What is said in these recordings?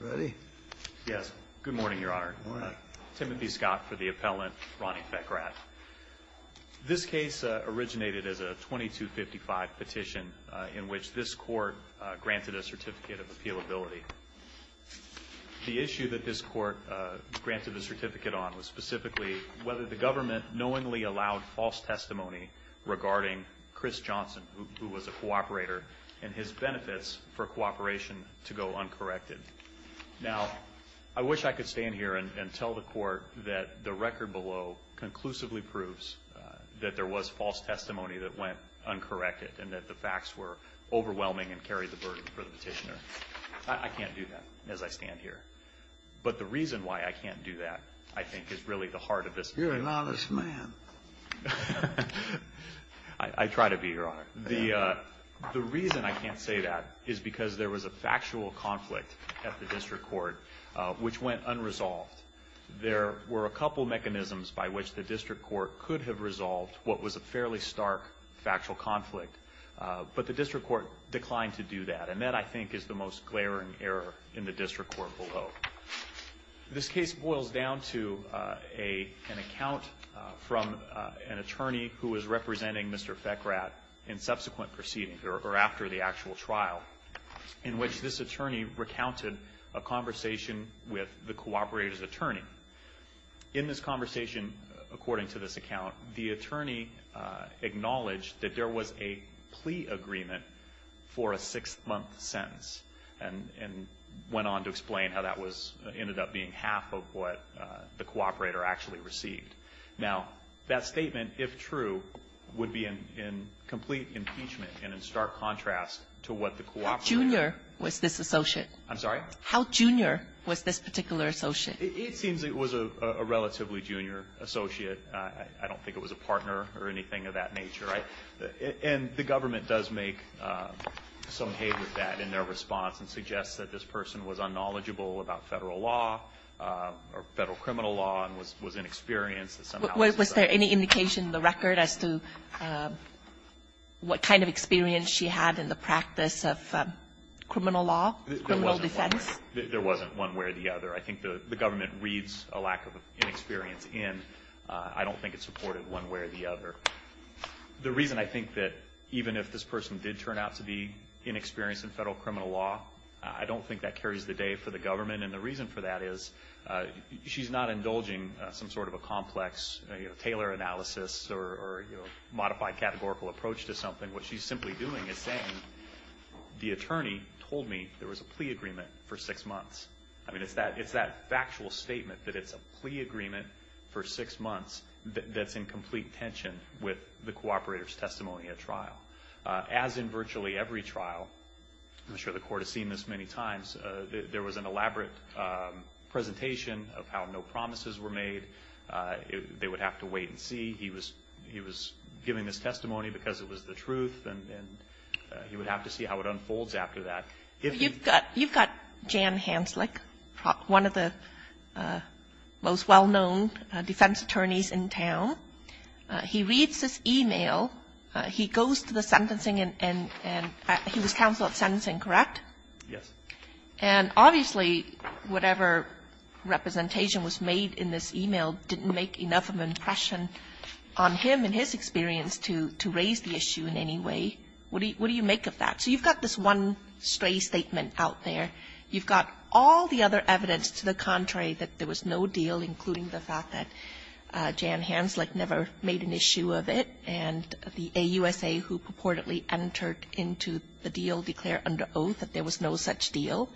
Ready? Yes. Good morning, Your Honor. Timothy Scott for the appellant, Ronnie Fekrat. This case originated as a 2255 petition in which this court granted a certificate of appealability. The issue that this court granted a certificate on was specifically whether the government knowingly allowed false testimony regarding Chris Johnson, who was a cooperator, and his benefits for cooperation to go uncorrected. Now, I wish I could stand here and tell the court that the record below conclusively proves that there was false testimony that went uncorrected and that the facts were overwhelming and carried the burden for the petitioner. I can't do that as I stand here. But the reason why I can't do that, I think, is really the heart of this case. You're an honest man. I try to be, Your Honor. The reason I can't say that is because there was a factual conflict at the district court which went unresolved. There were a couple mechanisms by which the district court could have resolved what was a fairly stark factual conflict. But the district court declined to do that. And that, I think, is the most glaring error in the district court below. This case boils down to an account from an attorney who was representing Mr. Fekrad in subsequent proceedings, or after the actual trial, in which this attorney recounted a conversation with the cooperator's attorney. In this conversation, according to this account, the attorney acknowledged that there was a plea agreement for a six-month sentence and went on to explain how that was ended up being half of what the cooperator actually received. Now, that statement, if true, would be in complete impeachment and in stark contrast to what the cooperator How junior was this associate? I'm sorry? How junior was this particular associate? It seems it was a relatively junior associate. I don't think it was a partner or anything of that nature. Right? And the government does make some hay with that in their response and suggests that this person was unknowledgeable about Federal law or Federal criminal law and was inexperienced. Was there any indication in the record as to what kind of experience she had in the practice of criminal law, criminal defense? There wasn't one way or the other. I think the government reads a lack of inexperience in. I don't think it's supported one way or the other. The reason I think that even if this person did turn out to be inexperienced in Federal criminal law, I don't think that carries the day for the government. And the reason for that is she's not indulging some sort of a complex Taylor analysis or modified categorical approach to something. What she's simply doing is saying the attorney told me there was a plea agreement for six months. I mean, it's that factual statement that it's a plea agreement for six months that's in complete tension with the cooperator's testimony at trial. As in virtually every trial, I'm sure the Court has seen this many times, there was an elaborate presentation of how no promises were made. They would have to wait and see. He was giving this testimony because it was the truth, and he would have to see how it unfolds after that. Kagan. You've got Jan Hanslick, one of the most well-known defense attorneys in town. He reads this e-mail. He goes to the sentencing and he was counsel at sentencing, correct? Yes. And obviously whatever representation was made in this e-mail didn't make enough of an impression on him and his experience to raise the issue in any way. What do you make of that? So you've got this one stray statement out there. You've got all the other evidence to the contrary that there was no deal, including the fact that Jan Hanslick never made an issue of it, and the AUSA who purportedly entered into the deal declared under oath that there was no such deal.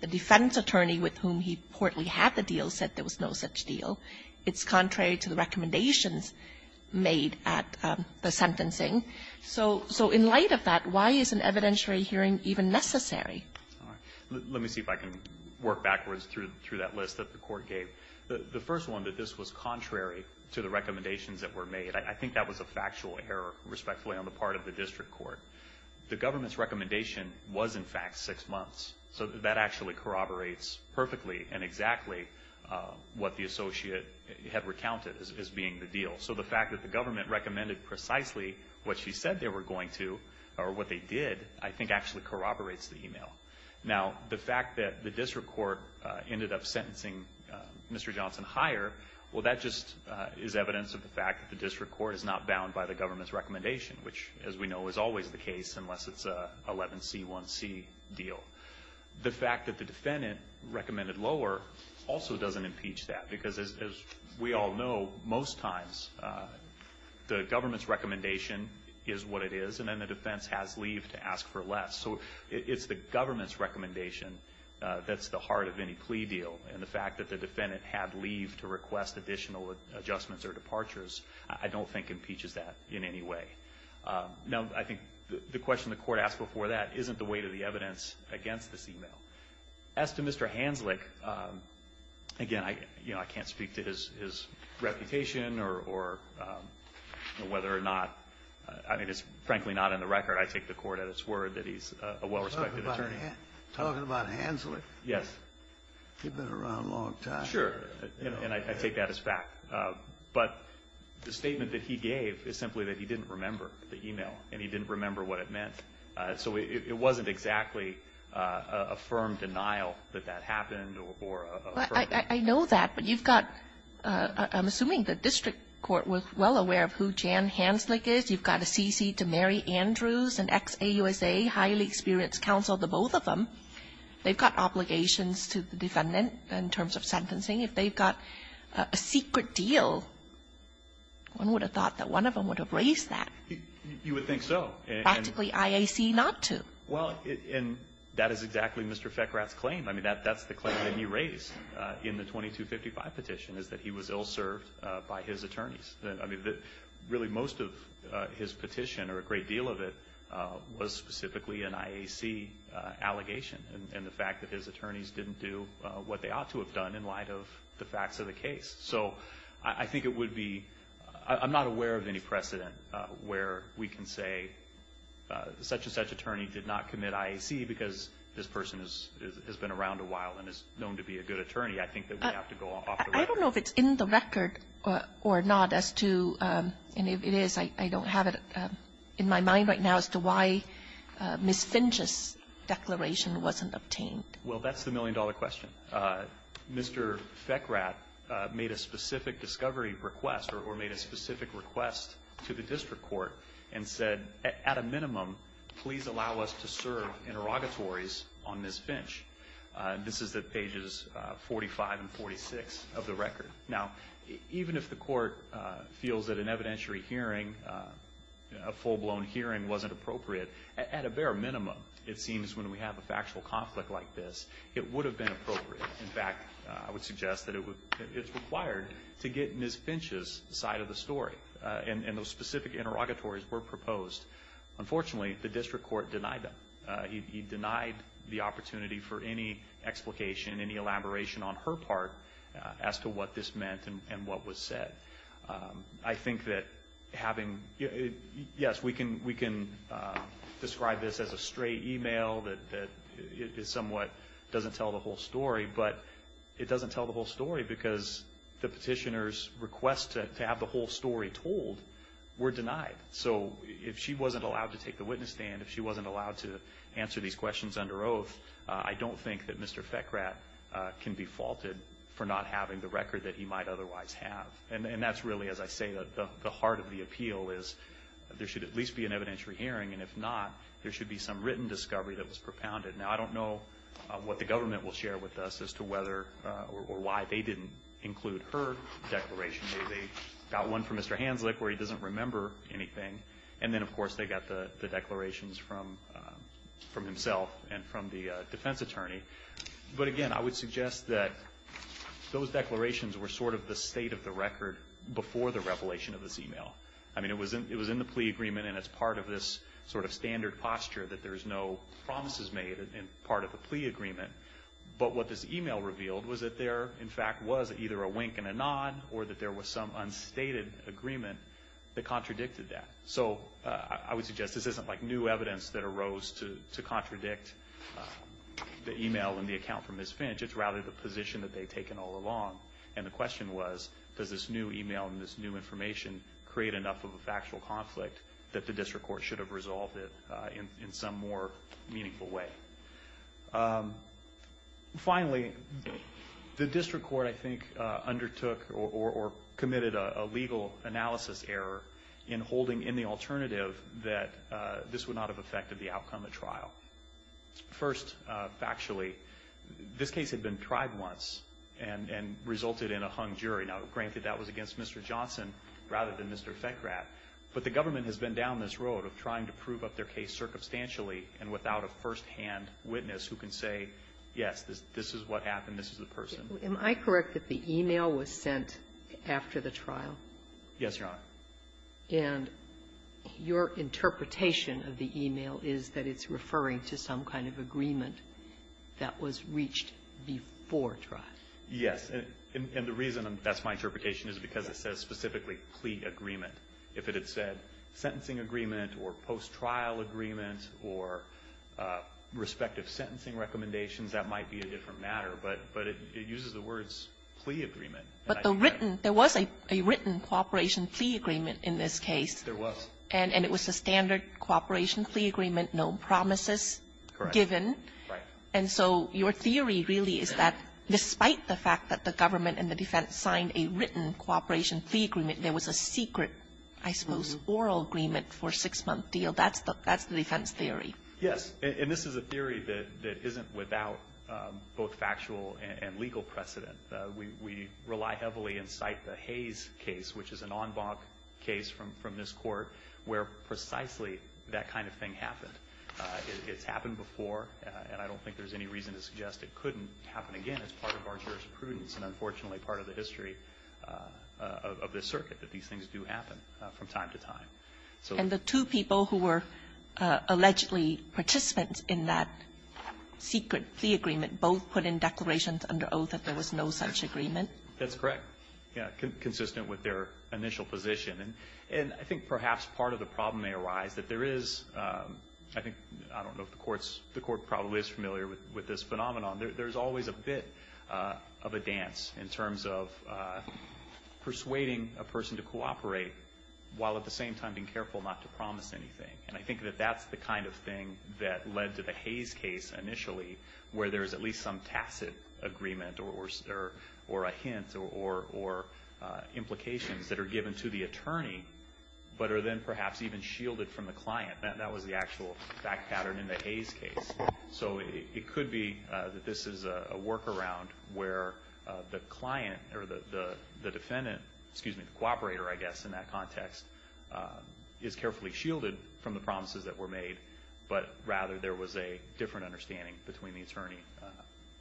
The defense attorney with whom he purportedly had the deal said there was no such deal. It's contrary to the recommendations made at the sentencing. So in light of that, why is an evidentiary hearing even necessary? Let me see if I can work backwards through that list that the Court gave. The first one, that this was contrary to the recommendations that were made. I think that was a factual error, respectfully, on the part of the district court. The government's recommendation was, in fact, six months. So that actually corroborates perfectly and exactly what the associate had recounted as being the deal. So the fact that the government recommended precisely what she said they were going to, or what they did, I think actually corroborates the email. Now, the fact that the district court ended up sentencing Mr. Johnson higher, well, that just is evidence of the fact that the district court is not bound by the government's recommendation, which, as we know, is always the case unless it's an 11C1C deal. The fact that the defendant recommended lower also doesn't impeach that, because as we all know, most times the government's recommendation is what it is, and then the defense has leave to ask for less. So it's the government's recommendation that's the heart of any plea deal. And the fact that the defendant had leave to request additional adjustments or departures I don't think impeaches that in any way. Now, I think the question the Court asked before that isn't the weight of the evidence against this email. As to Mr. Hanslick, again, you know, I can't speak to his reputation or whether or not, I mean, it's frankly not in the record. I take the Court at its word that he's a well-respected attorney. Talking about Hanslick? Yes. He's been around a long time. Sure. And I take that as fact. But the statement that he gave is simply that he didn't remember the email, and he didn't remember what it meant. So it wasn't exactly a firm denial that that happened or a firm denial. I know that. But you've got, I'm assuming the district court was well aware of who Jan Hanslick is. You've got a CC to Mary Andrews, an ex-AUSA, highly experienced counsel to both of them. They've got obligations to the defendant in terms of sentencing. If they've got a secret deal, one would have thought that one of them would have raised that. You would think so. Practically IAC not to. Well, and that is exactly Mr. Fekrat's claim. I mean, that's the claim that he raised in the 2255 petition, is that he was ill-served by his attorneys. I mean, really most of his petition, or a great deal of it, was specifically an IAC allegation, and the fact that his attorneys didn't do what they ought to have done in light of the facts of the case. So I think it would be, I'm not aware of any precedent where we can say such-and-such attorney did not commit IAC because this person has been around a while and is known to be a good attorney. I think that we have to go off the record. I don't know if it's in the record or not as to, and if it is, I don't have it in my mind right now as to why Ms. Finch's declaration wasn't obtained. Well, that's the million-dollar question. Mr. Fekrat made a specific discovery request, or made a specific request, to the district court and said, at a minimum, please allow us to serve interrogatories on Ms. Finch. This is at pages 45 and 46 of the record. Now, even if the court feels that an evidentiary hearing, a full-blown hearing, wasn't appropriate, at a bare minimum, it seems when we have a factual conflict like this, it would have been appropriate. In fact, I would suggest that it's required to get Ms. Finch's side of the story. And those specific interrogatories were proposed. Unfortunately, the district court denied them. He denied the opportunity for any explication, any elaboration on her part as to what this meant and what was said. I think that having – yes, we can describe this as a stray email that is somewhat doesn't tell the whole story, but it doesn't tell the whole story because the petitioner's request to have the whole story told were denied. So if she wasn't allowed to take the witness stand, if she wasn't allowed to answer these questions under oath, I don't think that Mr. Fekrat can be faulted for not having the record that he might otherwise have. And that's really, as I say, the heart of the appeal is there should at least be an evidentiary hearing, and if not, there should be some written discovery that was propounded. Now, I don't know what the government will share with us as to whether or why they didn't include her declaration. Maybe they got one from Mr. Hanslick where he doesn't remember anything, and then, of course, they got the declarations from himself and from the defense attorney. But again, I would suggest that those declarations were sort of the state of the record before the revelation of this email. I mean, it was in the plea agreement, and it's part of this sort of standard posture that there's no promises made in part of the plea agreement. But what this email revealed was that there, in fact, was either a wink and a nod, or that there was some unstated agreement that contradicted that. So I would suggest this isn't like new evidence that arose to contradict the email and the account from Ms. Finch. It's rather the position that they'd taken all along. And the question was, does this new email and this new information create enough of a factual conflict that the district court should have resolved it in some more meaningful way? Finally, the district court, I think, undertook or committed a legal analysis error in holding in the alternative that this would not have affected the outcome of trial. First, factually, this case had been tried once and resulted in a hung jury. Now, granted, that was against Mr. Johnson rather than Mr. Fekrat. But the government has been down this road of trying to prove up their case circumstantially and without a firsthand witness who can say, yes, this is what happened. This is the person. Am I correct that the email was sent after the trial? Yes, Your Honor. And your interpretation of the email is that it's referring to some kind of agreement that was reached before trial. Yes. And the reason that's my interpretation is because it says specifically plea agreement. If it had said sentencing agreement or post-trial agreement or respective sentencing recommendations, that might be a different matter. But it uses the words plea agreement. But the written, there was a written cooperation plea agreement in this case. There was. And it was a standard cooperation plea agreement, no promises given. Correct. Right. And so your theory really is that despite the fact that the government and the defense signed a written cooperation plea agreement, there was a secret, I suppose, oral agreement for a six-month deal. That's the defense theory. Yes. And this is a theory that isn't without both factual and legal precedent. We rely heavily and cite the Hayes case, which is an en banc case from this Court, where precisely that kind of thing happened. It's happened before, and I don't think there's any reason to suggest it couldn't happen again. It's part of our jurisprudence and, unfortunately, part of the history of this circuit, that these things do happen from time to time. And the two people who were allegedly participants in that secret plea agreement both put in declarations under oath that there was no such agreement. That's correct. Yeah. Consistent with their initial position. And I think perhaps part of the problem may arise that there is, I think, I don't know if the Court's, the Court probably is familiar with this phenomenon. There's always a bit of a dance in terms of persuading a person to cooperate while at the same time being careful not to promise anything. And I think that that's the kind of thing that led to the Hayes case initially, where there's at least some tacit agreement or a hint or implications that are given to the attorney but are then perhaps even shielded from the client. That was the actual fact pattern in the Hayes case. So it could be that this is a workaround where the client or the defendant, excuse me, the cooperator, I guess, in that context, is carefully shielded from the promises that were made, but rather there was a different understanding between the attorney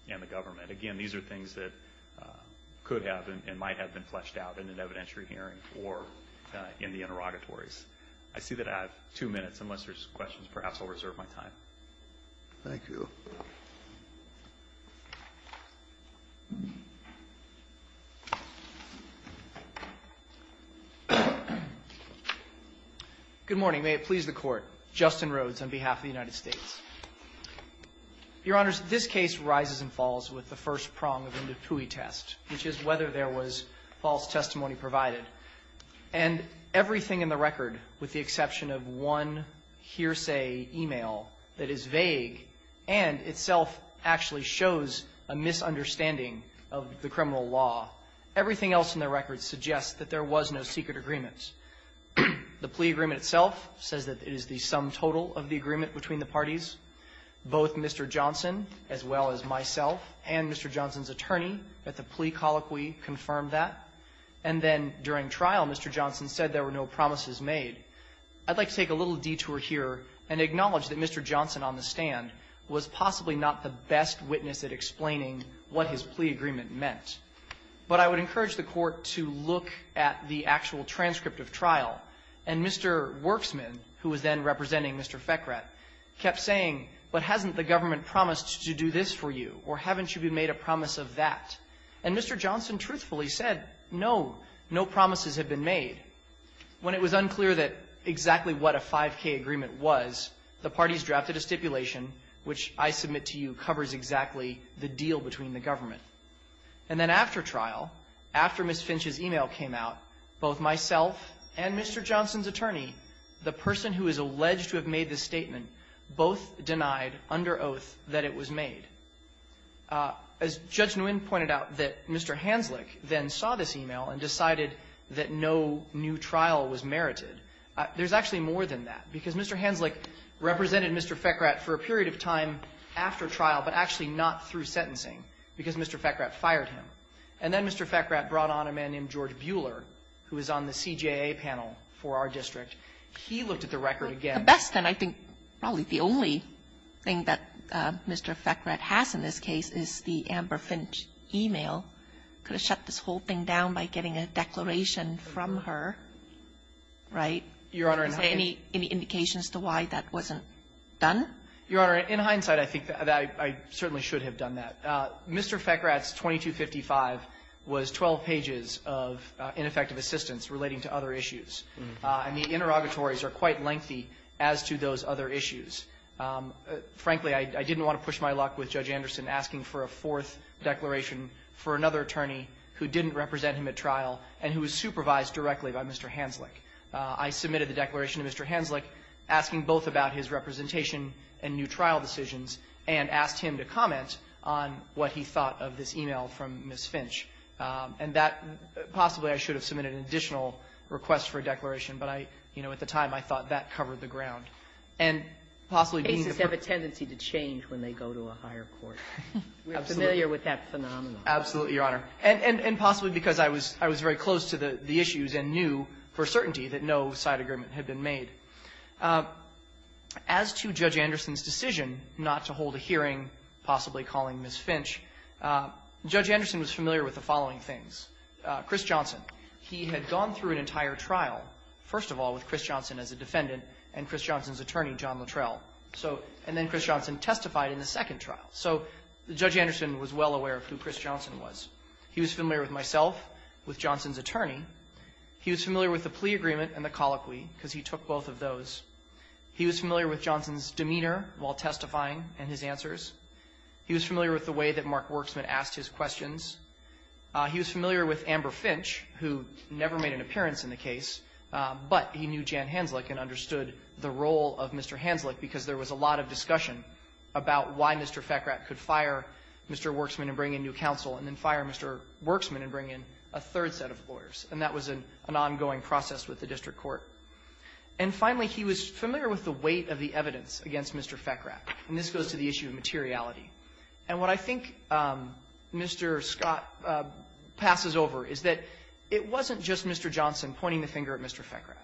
and the government. Again, these are things that could have and might have been fleshed out in an evidentiary hearing or in the interrogatories. I see that I have two minutes. Unless there's questions, perhaps I'll reserve my time. Good morning. May it please the Court. Justin Rhodes on behalf of the United States. Your Honors, this case rises and falls with the first prong of the Ndipui test, which is whether there was false testimony provided. And everything in the record, with the exception of one hearsay e-mail that is vague and itself actually shows a misunderstanding of the criminal law, everything else in the record suggests that there was no secret agreement. The plea agreement itself says that it is the sum total of the agreement between the parties. Both Mr. Johnson, as well as myself, and Mr. Johnson's attorney at the plea colloquy confirmed that. And then during trial, Mr. Johnson said there were no promises made. I'd like to take a little detour here and acknowledge that Mr. Johnson on the stand was possibly not the best witness at explaining what his plea agreement meant. But I would encourage the Court to look at the actual transcript of trial. And Mr. Werksman, who was then representing Mr. Fekrat, kept saying, but hasn't the government promised to do this for you, or haven't you made a promise of that? And Mr. Johnson truthfully said, no, no promises have been made. When it was unclear that exactly what a 5K agreement was, the parties drafted a stipulation, which I submit to you covers exactly the deal between the government. And then after trial, after Ms. Finch's email came out, both myself and Mr. Johnson's attorney, the person who is alleged to have made the statement, both denied under oath that it was made. As Judge Nguyen pointed out, that Mr. Hanslick then saw this email and decided that no new trial was merited. There's actually more than that, because Mr. Hanslick represented Mr. Fekrat for a period of time after trial, but actually not through sentencing, because Mr. Fekrat fired him. And then Mr. Fekrat brought on a man named George Buehler, who is on the CJA panel for our district. He looked at the record again. The best, and I think probably the only thing that Mr. Fekrat has in this case, is the Amber Finch email. Could have shut this whole thing down by getting a declaration from her, right? Your Honor, and I think any indications to why that wasn't done? Your Honor, in hindsight, I think that I certainly should have done that. Mr. Fekrat's 2255 was 12 pages of ineffective assistance relating to other issues. And the interrogatories are quite lengthy as to those other issues. Frankly, I didn't want to push my luck with Judge Anderson asking for a fourth declaration for another attorney who didn't represent him at trial and who was supervised directly by Mr. Hanslick. I submitted the declaration to Mr. Hanslick, asking both about his representation and new trial decisions, and asked him to comment on what he thought of this email from Ms. Finch. And that possibly I should have submitted an additional request for a declaration, but I, you know, at the time I thought that covered the ground. And possibly being the first ---- The cases have a tendency to change when they go to a higher court. Absolutely. We are familiar with that phenomenon. Absolutely, Your Honor. And possibly because I was very close to the issues and knew for certainty that no side agreement had been made. As to Judge Anderson's decision not to hold a hearing, possibly calling Ms. Finch, Judge Anderson was familiar with the following things. Chris Johnson. He had gone through an entire trial, first of all, with Chris Johnson as a defendant and Chris Johnson's attorney, John Luttrell. So and then Chris Johnson testified in the second trial. So Judge Anderson was well aware of who Chris Johnson was. He was familiar with myself, with Johnson's attorney. He was familiar with the plea agreement and the colloquy, because he took both of those. He was familiar with Johnson's demeanor while testifying and his answers. He was familiar with the way that Mark Worksman asked his questions. He was familiar with Amber Finch, who never made an appearance in the case, but he knew Jan Hanzlick and understood the role of Mr. Hanzlick because there was a lot of discussion about why Mr. Fekrat could fire Mr. Worksman and bring in new counsel and then fire Mr. Worksman and bring in a third set of lawyers. And that was an ongoing process with the district court. And finally, he was familiar with the weight of the evidence against Mr. Fekrat. And this goes to the issue of materiality. And what I think Mr. Scott passes over is that it wasn't just Mr. Johnson pointing the finger at Mr. Fekrat.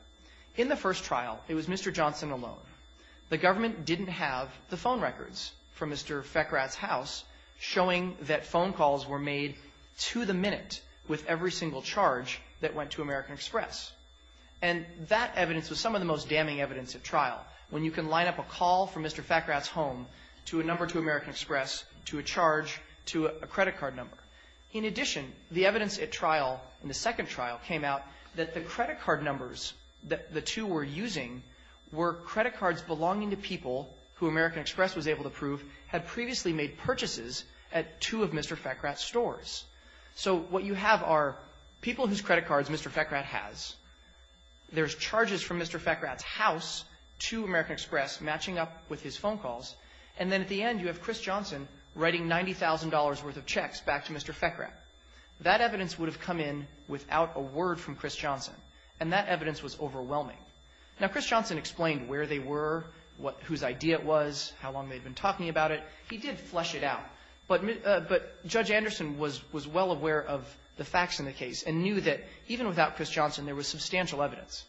In the first trial, it was Mr. Johnson alone. The government didn't have the phone records from Mr. Fekrat's house showing that phone calls were made to the minute with every single charge that went to American Express. And that evidence was some of the most damning evidence at trial, when you can line up a call from Mr. Fekrat's home to a number to American Express, to a charge, to a credit card number. In addition, the evidence at trial in the second trial came out that the credit card numbers that the two were using were credit cards belonging to people who American Express was able to prove had previously made purchases at two of Mr. Fekrat's stores. So what you have are people whose credit cards Mr. Fekrat has. There's charges from Mr. Fekrat's house to American Express matching up with his phone calls. And then at the end, you have Chris Johnson writing $90,000 worth of checks back to Mr. Fekrat. That evidence would have come in without a word from Chris Johnson, and that evidence was overwhelming. Now, Chris Johnson explained where they were, what – whose idea it was, how long they'd been talking about it. He did flesh it out. But – but Judge Anderson was – was well aware of the facts in the case and knew that even without Chris Johnson, there was substantial evidence.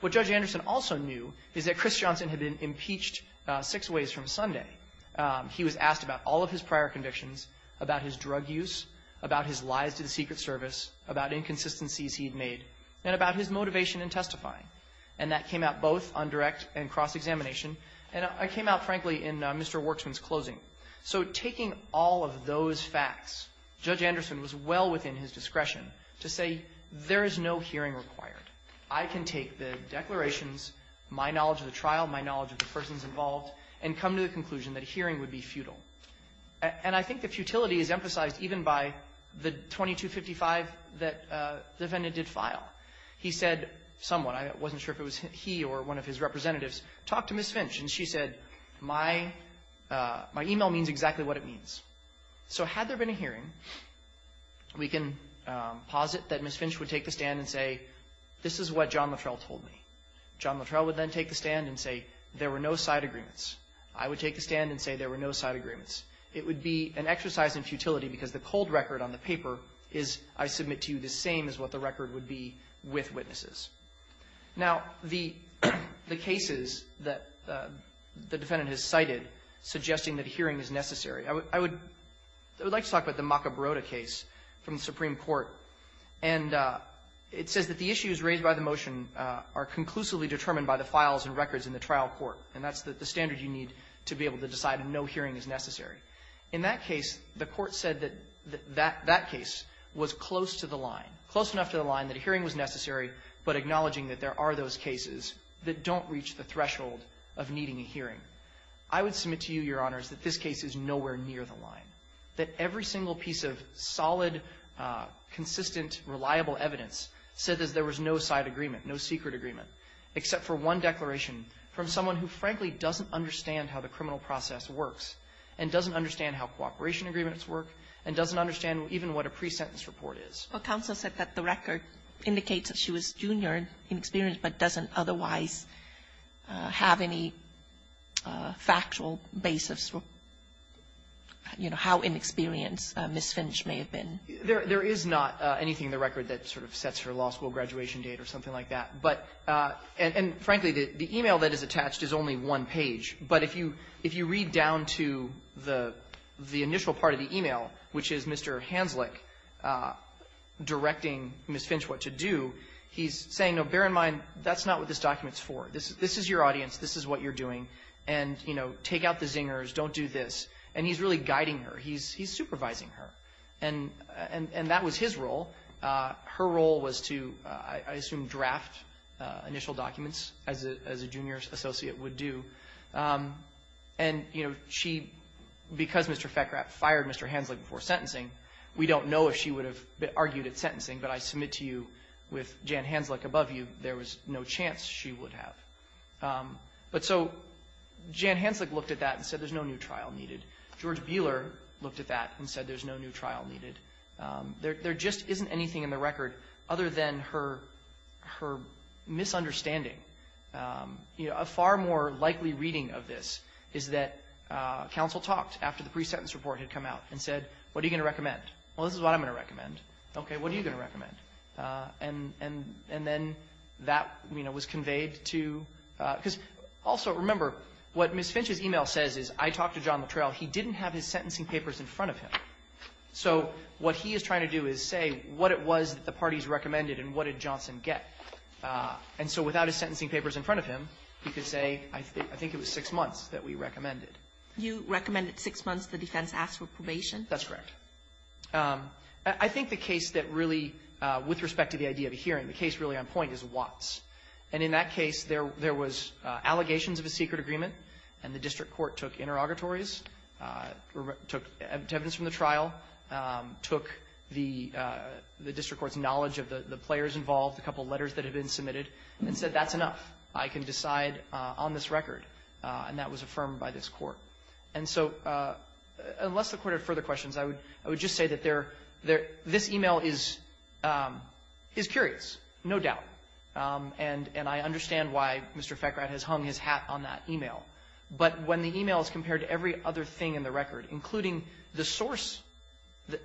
What Judge Anderson also knew is that Chris Johnson had been impeached six ways from Sunday. He was asked about all of his prior convictions, about his drug use, about his lies to the Secret Service, about inconsistencies he'd made, and about his motivation in testifying. And that came out both on direct and cross-examination, and it came out, frankly, in Mr. Worksman's closing. So taking all of those facts, Judge Anderson was well within his discretion to say, there is no hearing required. I can take the declarations, my knowledge of the trial, my knowledge of the persons involved, and come to the conclusion that a hearing would be futile. And I think the futility is emphasized even by the 2255 that the defendant did file. He said somewhat – I wasn't sure if it was he or one of his representatives – talk to Ms. Finch. And she said, my – my email means exactly what it means. So had there been a hearing, we can posit that Ms. Finch would take the stand and say, this is what John Luttrell told me. John Luttrell would then take the stand and say, there were no side agreements. I would take the stand and say, there were no side agreements. It would be an exercise in futility, because the cold record on the paper is, I submit to you, the same as what the record would be with witnesses. Now, the – the cases that the defendant has cited suggesting that a hearing is necessary, I would – I would like to talk about the Macabrota case from the Supreme Court. And it says that the issues raised by the motion are conclusively determined by the files and records in the trial court. And that's the standard you need to be able to decide no hearing is necessary. In that case, the Court said that that – that case was close to the line, close enough to the line that a hearing was necessary, but acknowledging that there are those cases that don't reach the threshold of needing a hearing. I would submit to you, Your Honors, that this case is nowhere near the line, that every single piece of solid, consistent, reliable evidence said that there was no side agreement, no secret agreement, except for one declaration from someone who, frankly, doesn't understand how the criminal process works and doesn't understand how cooperation agreements work and doesn't understand even what a pre-sentence report is. But counsel said that the record indicates that she was junior and inexperienced but doesn't otherwise have any factual basis, you know, how inexperienced Ms. Finch may have been. There is not anything in the record that sort of sets her law school graduation date or something like that. But – and, frankly, the e-mail that is attached is only one page. But if you read down to the initial part of the e-mail, which is Mr. Hanslick directing Ms. Finch what to do, he's saying, no, bear in mind, that's not what this document's for. This is your audience. This is what you're doing. And, you know, take out the zingers. Don't do this. And he's really guiding her. He's supervising her. And that was his role. Her role was to, I assume, draft initial documents, as a junior associate would do. And, you know, she – because Mr. Feckrath fired Mr. Hanslick before sentencing, we don't know if she would have argued at sentencing. But I submit to you, with Jan Hanslick above you, there was no chance she would have. But so Jan Hanslick looked at that and said there's no new trial needed. George Beeler looked at that and said there's no new trial needed. There just isn't anything in the record other than her misunderstanding. You know, a far more likely reading of this is that counsel talked after the pre-sentence report had come out and said, what are you going to recommend? Well, this is what I'm going to recommend. Okay. What are you going to recommend? And then that, you know, was conveyed to – because also, remember, what Ms. Finch's e-mail says is I talked to John Littrell. He didn't have his sentencing papers in front of him. So what he is trying to do is say what it was that the parties recommended and what did Johnson get. And so without his sentencing papers in front of him, he could say I think it was six months that we recommended. You recommended six months. The defense asked for probation. That's correct. I think the case that really, with respect to the idea of a hearing, the case really on point is Watts. And in that case, there was allegations of a secret agreement, and the district court took interrogatories, took evidence from the trial, took the district court's knowledge of the players involved, a couple of letters that had been submitted, and said that's enough. I can decide on this record. And that was affirmed by this court. And so unless the Court had further questions, I would just say that this e-mail is curious, no doubt. And I understand why Mr. Feckright has hung his hat on that e-mail. But when the e-mail is compared to every other thing in the record, including the source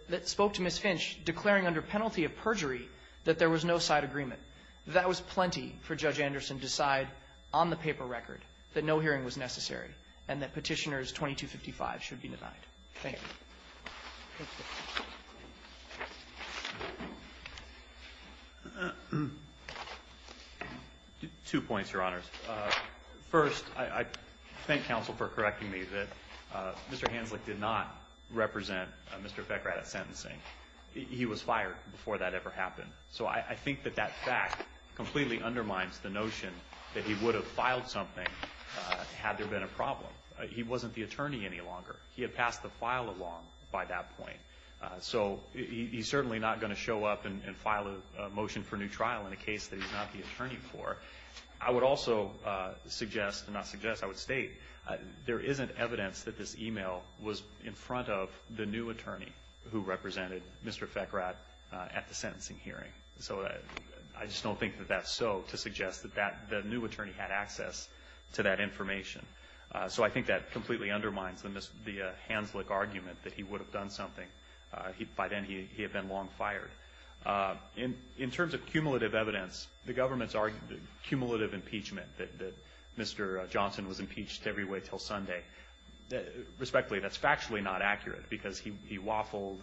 that spoke to Ms. Finch declaring under penalty of perjury that there was no side agreement, that was plenty for Judge Anderson to decide on the paper record, that no hearing was necessary, and that Petitioner's 2255 should be denied. Thank you. Thank you. Two points, Your Honors. First, I thank counsel for correcting me that Mr. Hanzlick did not represent Mr. Feckright at sentencing. He was fired before that ever happened. So I think that that fact completely undermines the notion that he would have filed something had there been a problem. He wasn't the attorney any longer. He had passed the file along by that point. So he's certainly not going to show up and file a motion for new trial in a case that he's not the attorney for. I would also suggest, and not suggest, I would state there isn't evidence that this e-mail was in front of the new attorney who represented Mr. Feckright at the hearing. So I just don't think that that's so to suggest that the new attorney had access to that information. So I think that completely undermines the Hanzlick argument that he would have done something. By then, he had been long fired. In terms of cumulative evidence, the government's cumulative impeachment that Mr. Johnson was impeached every way until Sunday, respectfully, that's factually not accurate because he waffled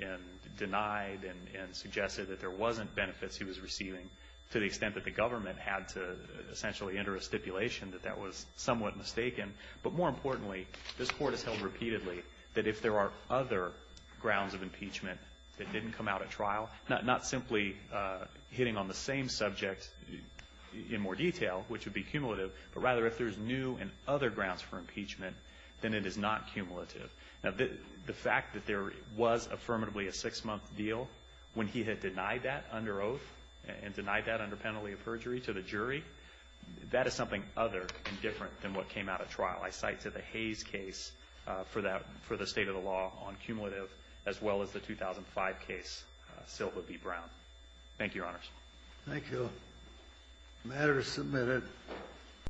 and denied and suggested that there wasn't benefits he was receiving to the extent that the government had to essentially enter a stipulation that that was somewhat mistaken. But more importantly, this Court has held repeatedly that if there are other grounds of impeachment that didn't come out at trial, not simply hitting on the same subject in more detail, which would be cumulative, but rather if there's new and other grounds for impeachment, then it is not cumulative. Now, the fact that there was affirmatively a six-month deal when he had denied that under oath and denied that under penalty of perjury to the jury, that is something other and different than what came out at trial. I cite to the Hayes case for the state of the law on cumulative as well as the 2005 case, Silva v. Brown. Thank you, Your Honors. Thank you. The matter is submitted.